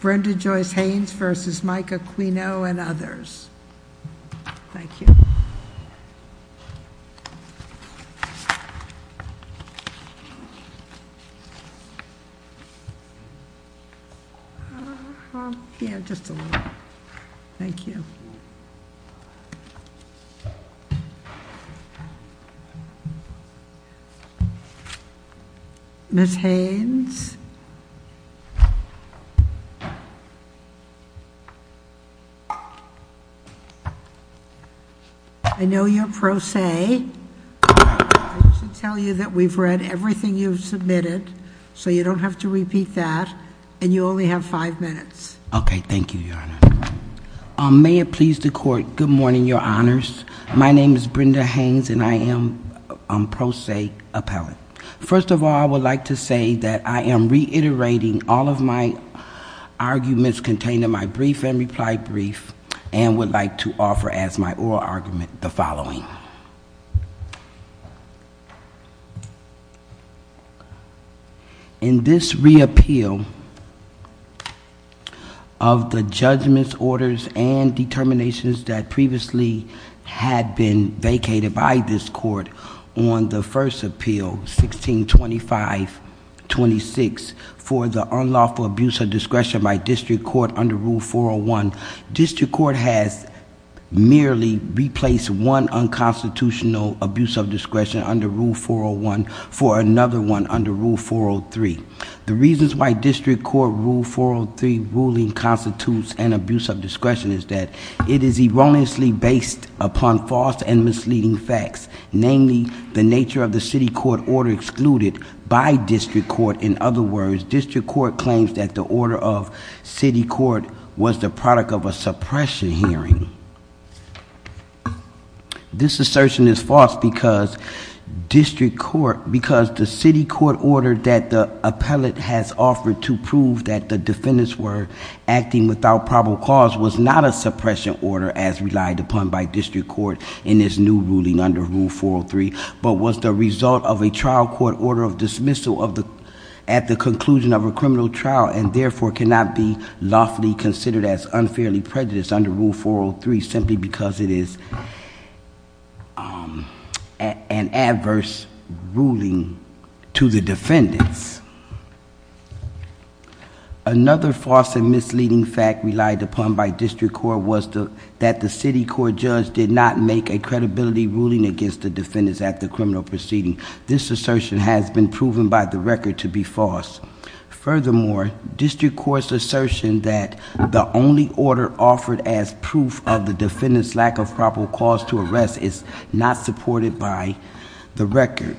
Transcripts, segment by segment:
Brenda Joyce Haynes v. Micah Acquino Ms. Haynes, I know you're pro se. I should tell you that we've read everything you've submitted, so you don't have to repeat that. And you only have five minutes. Okay, thank you, Your Honor. May it please the Court, good morning, Your Honors. My name is Brenda Haynes, and I am pro se appellate. First of all, I would like to say that I am reiterating all of my arguments contained in my brief and reply brief, and would like to offer as my oral argument the following. In this reappeal of the judgments, orders, and determinations that previously had been vacated by this Court on the first appeal, 1625-26, for the unlawful abuse of discretion by District Court under Rule 401, District Court has merely replaced one unconstitutional abuse of discretion under Rule 401 for another one under Rule 403. The reasons why District Court Rule 403 ruling constitutes an abuse of discretion is that it is erroneously based upon false and misleading facts, namely, the nature of the City Court order excluded by District Court. In other words, District Court claims that the order of City Court was the product of a suppression hearing. This assertion is false because the City Court order that the appellate has offered to prove that the defendants were acting without probable cause was not a suppression order as relied upon by District Court in this new ruling under Rule 403, but was the result of a trial court order of dismissal at the conclusion of a criminal trial and therefore cannot be lawfully considered as unfairly prejudiced under Rule 403 simply because it is an adverse ruling to the defendants. Another false and misleading fact relied upon by District Court was that the City Court judge did not make a credibility ruling against the defendants at the criminal proceeding. This assertion has been proven by the record to be false. Furthermore, District Court's assertion that the only order offered as proof of the defendants' lack of probable cause to arrest is not supported by the record.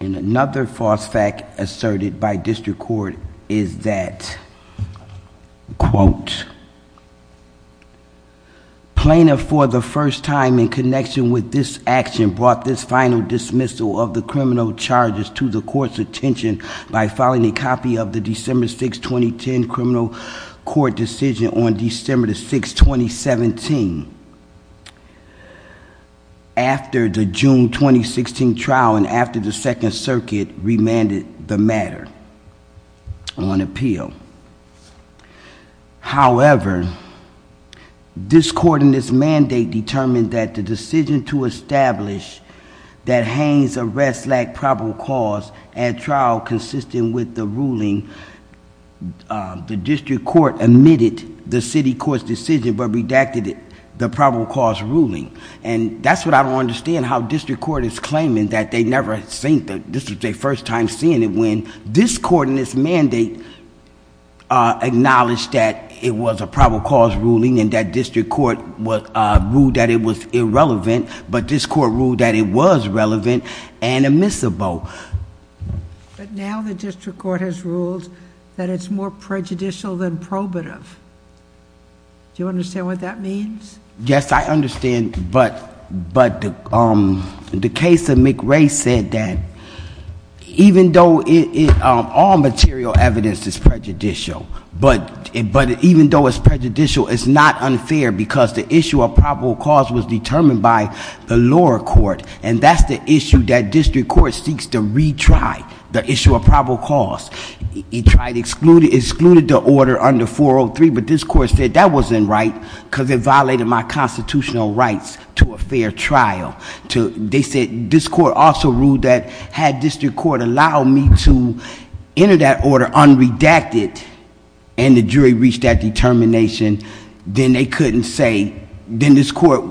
And another false fact asserted by District Court is that, quote, plaintiff for the first time in connection with this action brought this final dismissal of the criminal charges to the court's attention by filing a copy of the December 6, 2010 criminal court decision on December 6, 2017. After the June 2016 trial and after the Second Circuit remanded the matter on appeal. However, this court in this mandate determined that the decision to establish that Haines' arrest lacked probable cause at trial consistent with the ruling, the District Court admitted the City Court's decision but redacted it, the probable cause ruling. And that's what I don't understand how District Court is claiming that they never seen, this is their first time seeing it when this court in this mandate acknowledged that it was a probable cause ruling and that District Court ruled that it was irrelevant, but this court ruled that it was relevant and admissible. But now the District Court has ruled that it's more prejudicial than probative. Do you understand what that means? Yes, I understand, but the case of McRae said that even though all material evidence is prejudicial, but even though it's prejudicial, it's not unfair because the issue of probable cause was determined by the lower court and that's the issue that District Court seeks to retry, the issue of probable cause. It tried to exclude the order under 403, but this court said that wasn't right because it violated my constitutional rights to a fair trial. They said this court also ruled that had District Court allowed me to enter that order unredacted and the jury reached that determination, then they couldn't say, then this court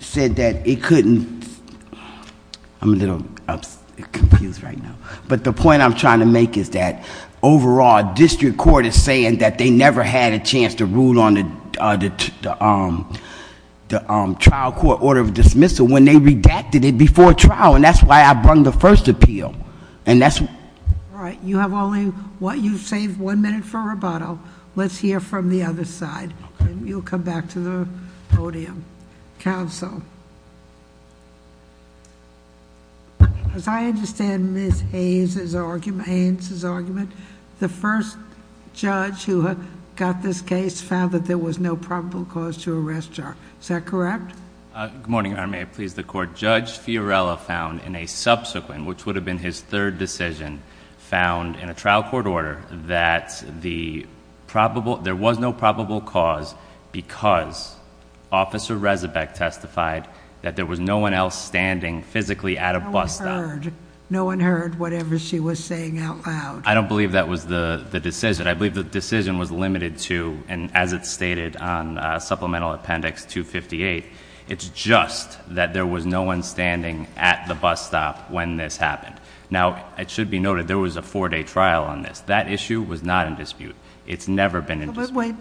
said that it couldn't, I'm a little confused right now, but the point I'm trying to make is that overall District Court is saying that they never had a chance to rule on the trial court order of dismissal when they redacted it before trial and that's why I brung the first appeal. All right, you've saved one minute for rebuttal. Let's hear from the other side and you'll come back to the podium. Counsel, as I understand Ms. Haynes' argument, the first judge who got this case found that there was no probable cause to arrest her. Is that correct? Good morning, Your Honor. May it please the court. Judge Fiorella found in a subsequent, which would have been his third decision, found in a trial court order that there was no probable cause because Officer Rezebeck testified that there was no one else standing physically at a bus stop. No one heard. No one heard whatever she was saying out loud. I don't believe that was the decision. I believe the decision was limited to, and as it's stated on Supplemental Appendix 258, it's just that there was no one standing at the bus stop when this happened. Now, it should be noted there was a four-day trial on this. That issue was not in dispute. It's never been in dispute. Wait,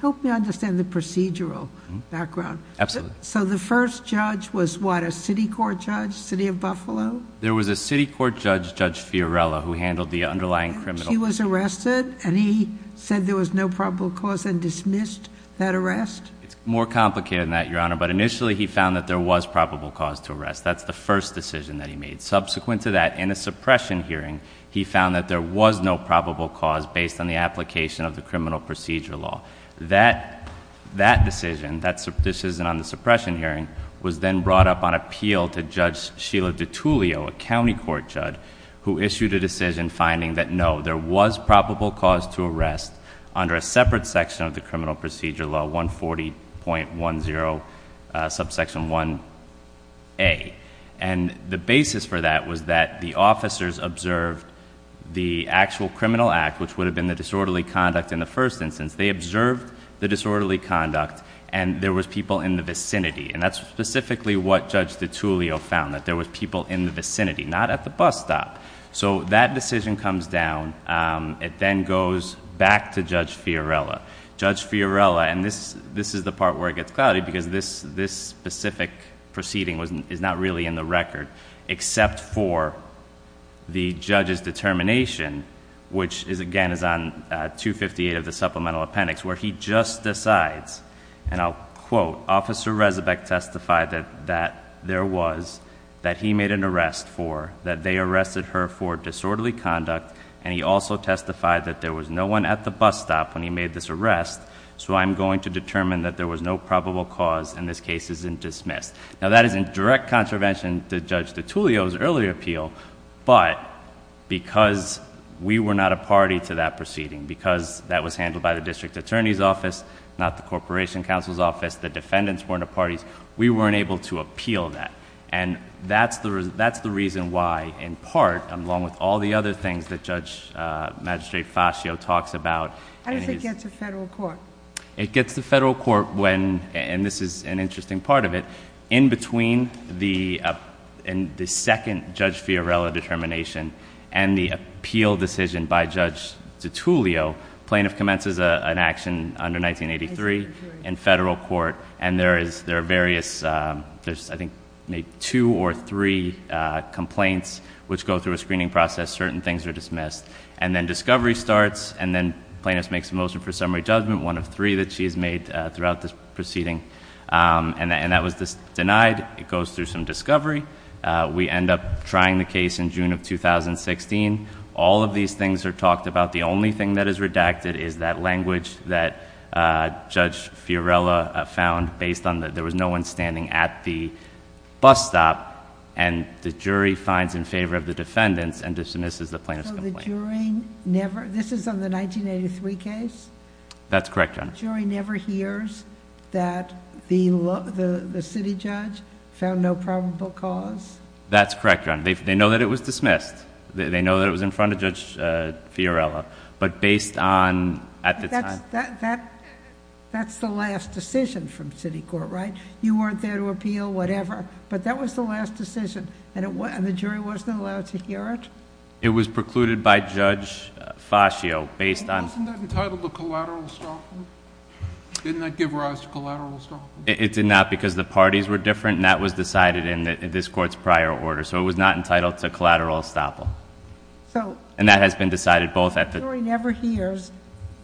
help me understand the procedural background. Absolutely. So the first judge was what, a city court judge, City of Buffalo? There was a city court judge, Judge Fiorella, who handled the underlying criminal case. He was arrested and he said there was no probable cause and dismissed that arrest? It's more complicated than that, Your Honor, but initially he found that there was probable cause to arrest. That's the first decision that he made. Subsequent to that, in a suppression hearing, he found that there was no probable cause based on the application of the criminal procedure law. That decision, that decision on the suppression hearing, was then brought up on appeal to Judge Sheila DiTullio, a county court judge, who issued a decision finding that no, there was probable cause to arrest under a separate section of the criminal procedure law, 140.10, subsection 1A. And the basis for that was that the officers observed the actual criminal act, which would have been the disorderly conduct in the first instance. They observed the disorderly conduct and there was people in the vicinity. And that's specifically what Judge DiTullio found, that there was people in the vicinity, not at the bus stop. So that decision comes down. It then goes back to Judge Fiorella. Judge Fiorella, and this is the part where it gets cloudy because this specific proceeding is not really in the record, except for the judge's determination, which again is on 258 of the supplemental appendix, where he just decides, and I'll quote, Officer Resabeck testified that there was, that he made an arrest for, that they arrested her for disorderly conduct. And he also testified that there was no one at the bus stop when he made this arrest. So I'm going to determine that there was no probable cause and this case isn't dismissed. Now that is in direct contravention to Judge DiTullio's earlier appeal. But because we were not a party to that proceeding, because that was handled by the district attorney's office, not the corporation counsel's office, the defendants weren't a party, we weren't able to appeal that. And that's the reason why, in part, along with all the other things that Judge Magistrate Fascio talks about. How does it get to federal court? It gets to federal court when, and this is an interesting part of it, in between the second Judge Fiorella determination and the appeal decision by Judge DiTullio, plaintiff commences an action under 1983 in federal court. And there are various, there's I think maybe two or three complaints which go through a screening process, certain things are dismissed. And then discovery starts, and then plaintiff makes a motion for summary judgment, one of three that she has made throughout this proceeding. And that was denied. It goes through some discovery. We end up trying the case in June of 2016. All of these things are talked about. The only thing that is redacted is that language that Judge Fiorella found based on that there was no one standing at the bus stop. And the jury finds in favor of the defendants and dismisses the plaintiff's complaint. So the jury never, this is on the 1983 case? That's correct, Your Honor. The jury never hears that the city judge found no probable cause? That's correct, Your Honor. They know that it was dismissed. They know that it was in front of Judge Fiorella. But based on, at the time- That's the last decision from city court, right? You weren't there to appeal, whatever. But that was the last decision. And the jury wasn't allowed to hear it? It was precluded by Judge Fascio based on- Wasn't that entitled to collateral estoppel? Didn't that give rise to collateral estoppel? It did not because the parties were different, and that was decided in this court's prior order. So it was not entitled to collateral estoppel. And that has been decided both at the- So the jury never hears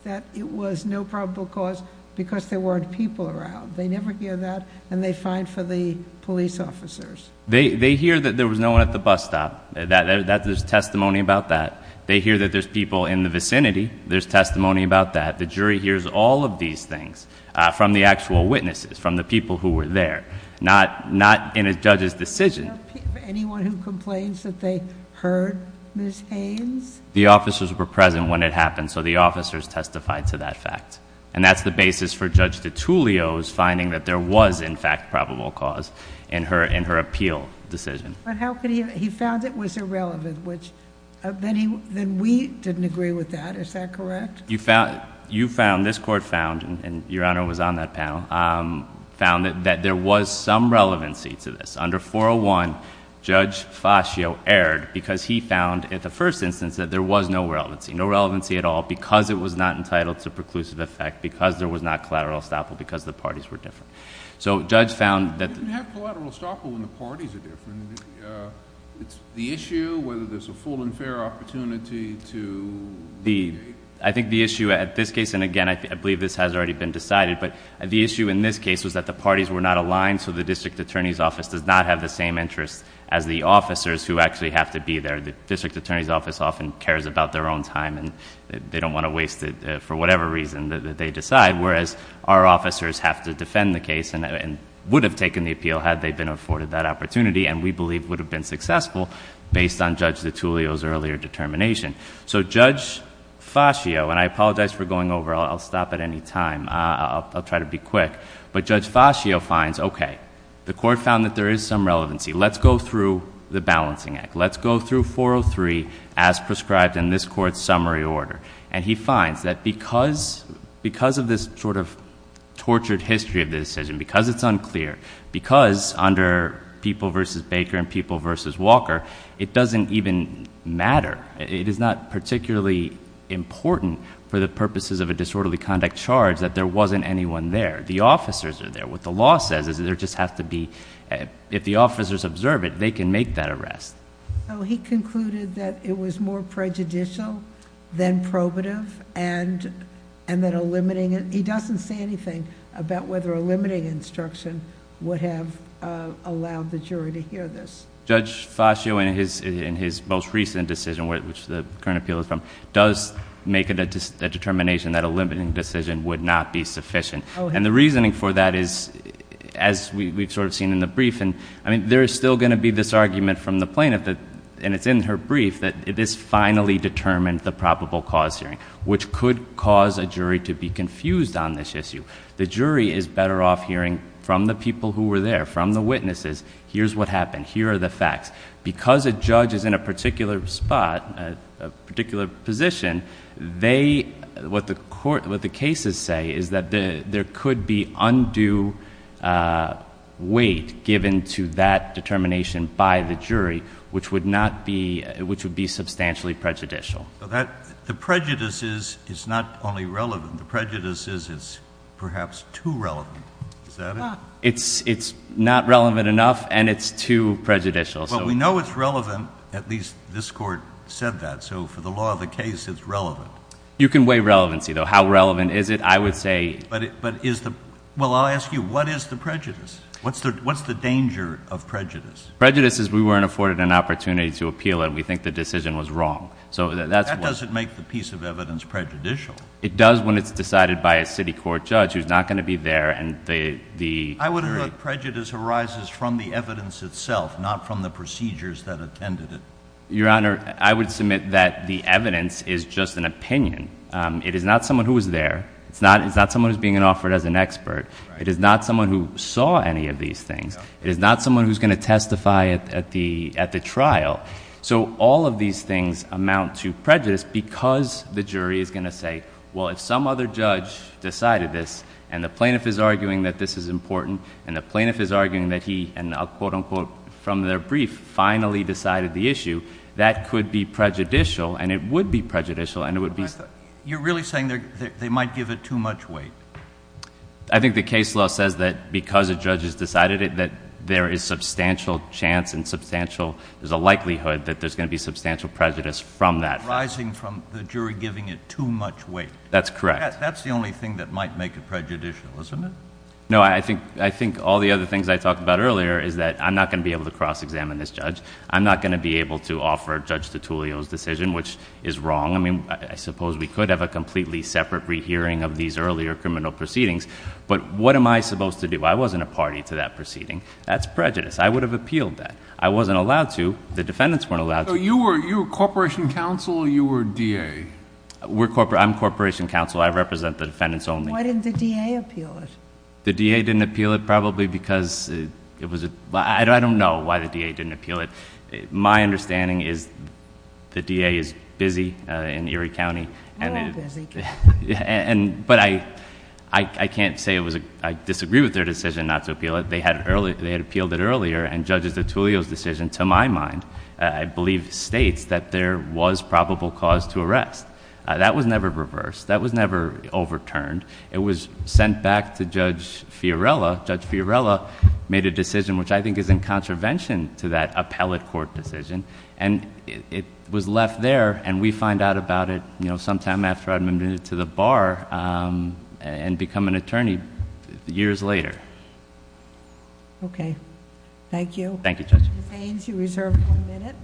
that it was no probable cause because there weren't people around. They never hear that, and they find for the police officers. They hear that there was no one at the bus stop. There's testimony about that. They hear that there's people in the vicinity. There's testimony about that. The jury hears all of these things from the actual witnesses, from the people who were there, not in a judge's decision. Anyone who complains that they heard Ms. Haynes? The officers were present when it happened, so the officers testified to that fact. And that's the basis for Judge DiTullio's finding that there was, in fact, probable cause in her appeal decision. But he found it was irrelevant, which then we didn't agree with that. Is that correct? You found, this court found, and Your Honor was on that panel, found that there was some relevancy to this. Under 401, Judge Fascio erred because he found at the first instance that there was no relevancy, no relevancy at all, because it was not entitled to preclusive effect, because there was not collateral estoppel, because the parties were different. So Judge found that- It's not collateral estoppel when the parties are different. The issue, whether there's a full and fair opportunity to- I think the issue at this case, and again, I believe this has already been decided, but the issue in this case was that the parties were not aligned, so the district attorney's office does not have the same interest as the officers who actually have to be there. The district attorney's office often cares about their own time, and they don't want to waste it for whatever reason that they decide. Whereas, our officers have to defend the case and would have taken the appeal had they been afforded that opportunity, and we believe would have been successful based on Judge DiTullio's earlier determination. So Judge Fascio, and I apologize for going over, I'll stop at any time, I'll try to be quick. But Judge Fascio finds, okay, the court found that there is some relevancy. Let's go through the balancing act. Let's go through 403 as prescribed in this court's summary order. And he finds that because of this sort of tortured history of this decision, because it's unclear, because under People v. Baker and People v. Walker, it doesn't even matter. It is not particularly important for the purposes of a disorderly conduct charge that there wasn't anyone there. The officers are there. What the law says is there just has to be, if the officers observe it, they can make that arrest. He concluded that it was more prejudicial than probative and that a limiting, he doesn't say anything about whether a limiting instruction would have allowed the jury to hear this. Judge Fascio, in his most recent decision, which the current appeal is from, does make a determination that a limiting decision would not be sufficient. And the reasoning for that is, as we've sort of seen in the brief, and there is still going to be this argument from the plaintiff, and it's in her brief, that this finally determined the probable cause hearing, which could cause a jury to be confused on this issue. The jury is better off hearing from the people who were there, from the witnesses, here's what happened, here are the facts. Because a judge is in a particular spot, a particular position, what the cases say is that there could be undue weight given to that determination by the jury, which would be substantially prejudicial. The prejudice is not only relevant. The prejudice is perhaps too relevant. Is that it? It's not relevant enough and it's too prejudicial. Well, we know it's relevant. At least this Court said that. So for the law of the case, it's relevant. You can weigh relevancy, though. How relevant is it? I would say... Well, I'll ask you, what is the prejudice? What's the danger of prejudice? Prejudice is we weren't afforded an opportunity to appeal and we think the decision was wrong. That doesn't make the piece of evidence prejudicial. It does when it's decided by a city court judge who's not going to be there and the jury... I would have thought prejudice arises from the evidence itself, not from the procedures that attended it. Your Honor, I would submit that the evidence is just an opinion. It is not someone who was there. It's not someone who's being offered as an expert. It is not someone who saw any of these things. It is not someone who's going to testify at the trial. So all of these things amount to prejudice because the jury is going to say, well, if some other judge decided this and the plaintiff is arguing that this is important and the plaintiff is arguing that he, and I'll quote-unquote, from their brief, finally decided the issue, that could be prejudicial and it would be prejudicial and it would be... You're really saying they might give it too much weight? I think the case law says that because a judge has decided it that there is substantial chance and there's a likelihood that there's going to be substantial prejudice from that. Arising from the jury giving it too much weight. That's correct. That's the only thing that might make it prejudicial, isn't it? No, I think all the other things I talked about earlier is that I'm not going to be able to cross-examine this judge. I'm not going to be able to offer Judge Tuttulio's decision, which is wrong. I mean, I suppose we could have a completely separate rehearing of these earlier criminal proceedings, but what am I supposed to do? I wasn't a party to that proceeding. That's prejudice. I would have appealed that. I wasn't allowed to. The defendants weren't allowed to. So you were corporation counsel or you were DA? I'm corporation counsel. I represent the defendants only. Why didn't the DA appeal it? The DA didn't appeal it probably because it was a... I don't know why the DA didn't appeal it. My understanding is the DA is busy in Erie County. Very busy. But I can't say it was a... I disagree with their decision not to appeal it. They had appealed it earlier, and Judge Tuttulio's decision, to my mind, I believe, states that there was probable cause to arrest. That was never reversed. That was never overturned. It was sent back to Judge Fiorella. Judge Fiorella made a decision which I think is in contravention to that appellate court decision, and it was left there, and we find out about it sometime after I'm admitted to the bar and become an attorney years later. Okay. Thank you. Thank you, Judge. Ms. Ains, you reserve one minute.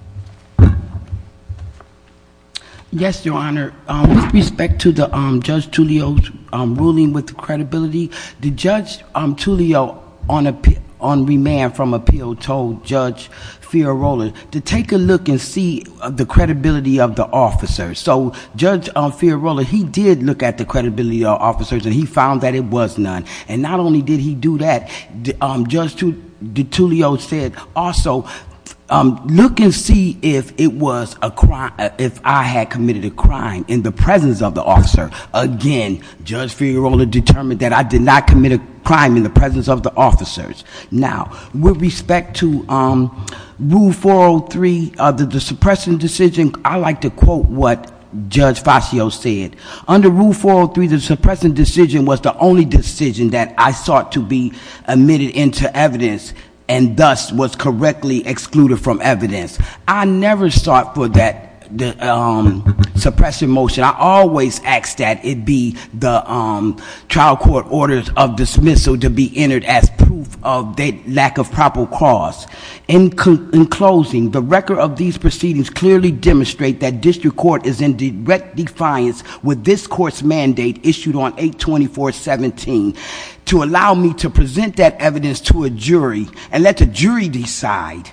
Yes, Your Honor. With respect to Judge Tuttulio's ruling with credibility, Judge Tuttulio, on remand from appeal, told Judge Fiorella to take a look and see the credibility of the officers. So Judge Fiorella, he did look at the credibility of the officers, and he found that it was none. And not only did he do that, Judge Tuttulio said also, look and see if I had committed a crime in the presence of the officer. Again, Judge Fiorella determined that I did not commit a crime in the presence of the officers. Now, with respect to Rule 403, the suppression decision, I like to quote what Judge Fazio said. Under Rule 403, the suppression decision was the only decision that I sought to be admitted into evidence and thus was correctly excluded from evidence. I never sought for that suppression motion. I always asked that it be the trial court orders of dismissal to be entered as proof of the lack of proper cause. In closing, the record of these proceedings clearly demonstrate that district court is in direct defiance with this court's mandate issued on 824.17 to allow me to present that evidence to a jury and let the jury decide.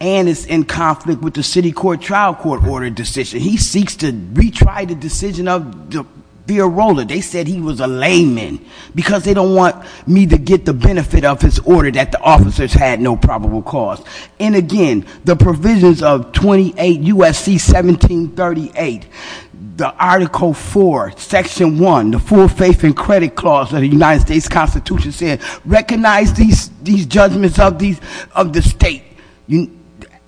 And it's in conflict with the city court trial court order decision. He seeks to retry the decision of Fiorella. They said he was a layman because they don't want me to get the benefit of his order that the officers had no probable cause. And again, the provisions of 28 U.S.C. 1738, the Article 4, Section 1, the full faith and credit clause of the United States Constitution says recognize these judgments of the state.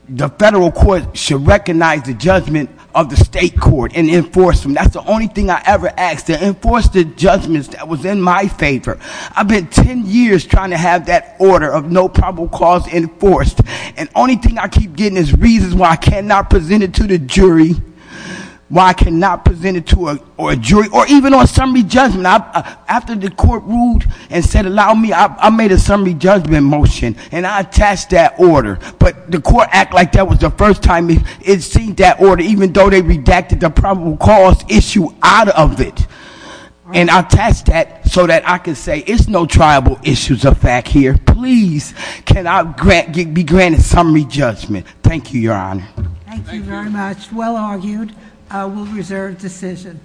The federal court should recognize the judgment of the state court and enforce them. That's the only thing I ever asked, to enforce the judgments that was in my favor. I've been 10 years trying to have that order of no probable cause enforced. And the only thing I keep getting is reasons why I cannot present it to the jury, why I cannot present it to a jury or even on summary judgment. After the court ruled and said allow me, I made a summary judgment motion and I attached that order. But the court act like that was the first time it's seen that order even though they redacted the probable cause issue out of it. And I attached that so that I can say it's no tribal issues of fact here. Please, can I be granted summary judgment? Thank you, Your Honor. Thank you very much. Well argued. We'll reserve decision.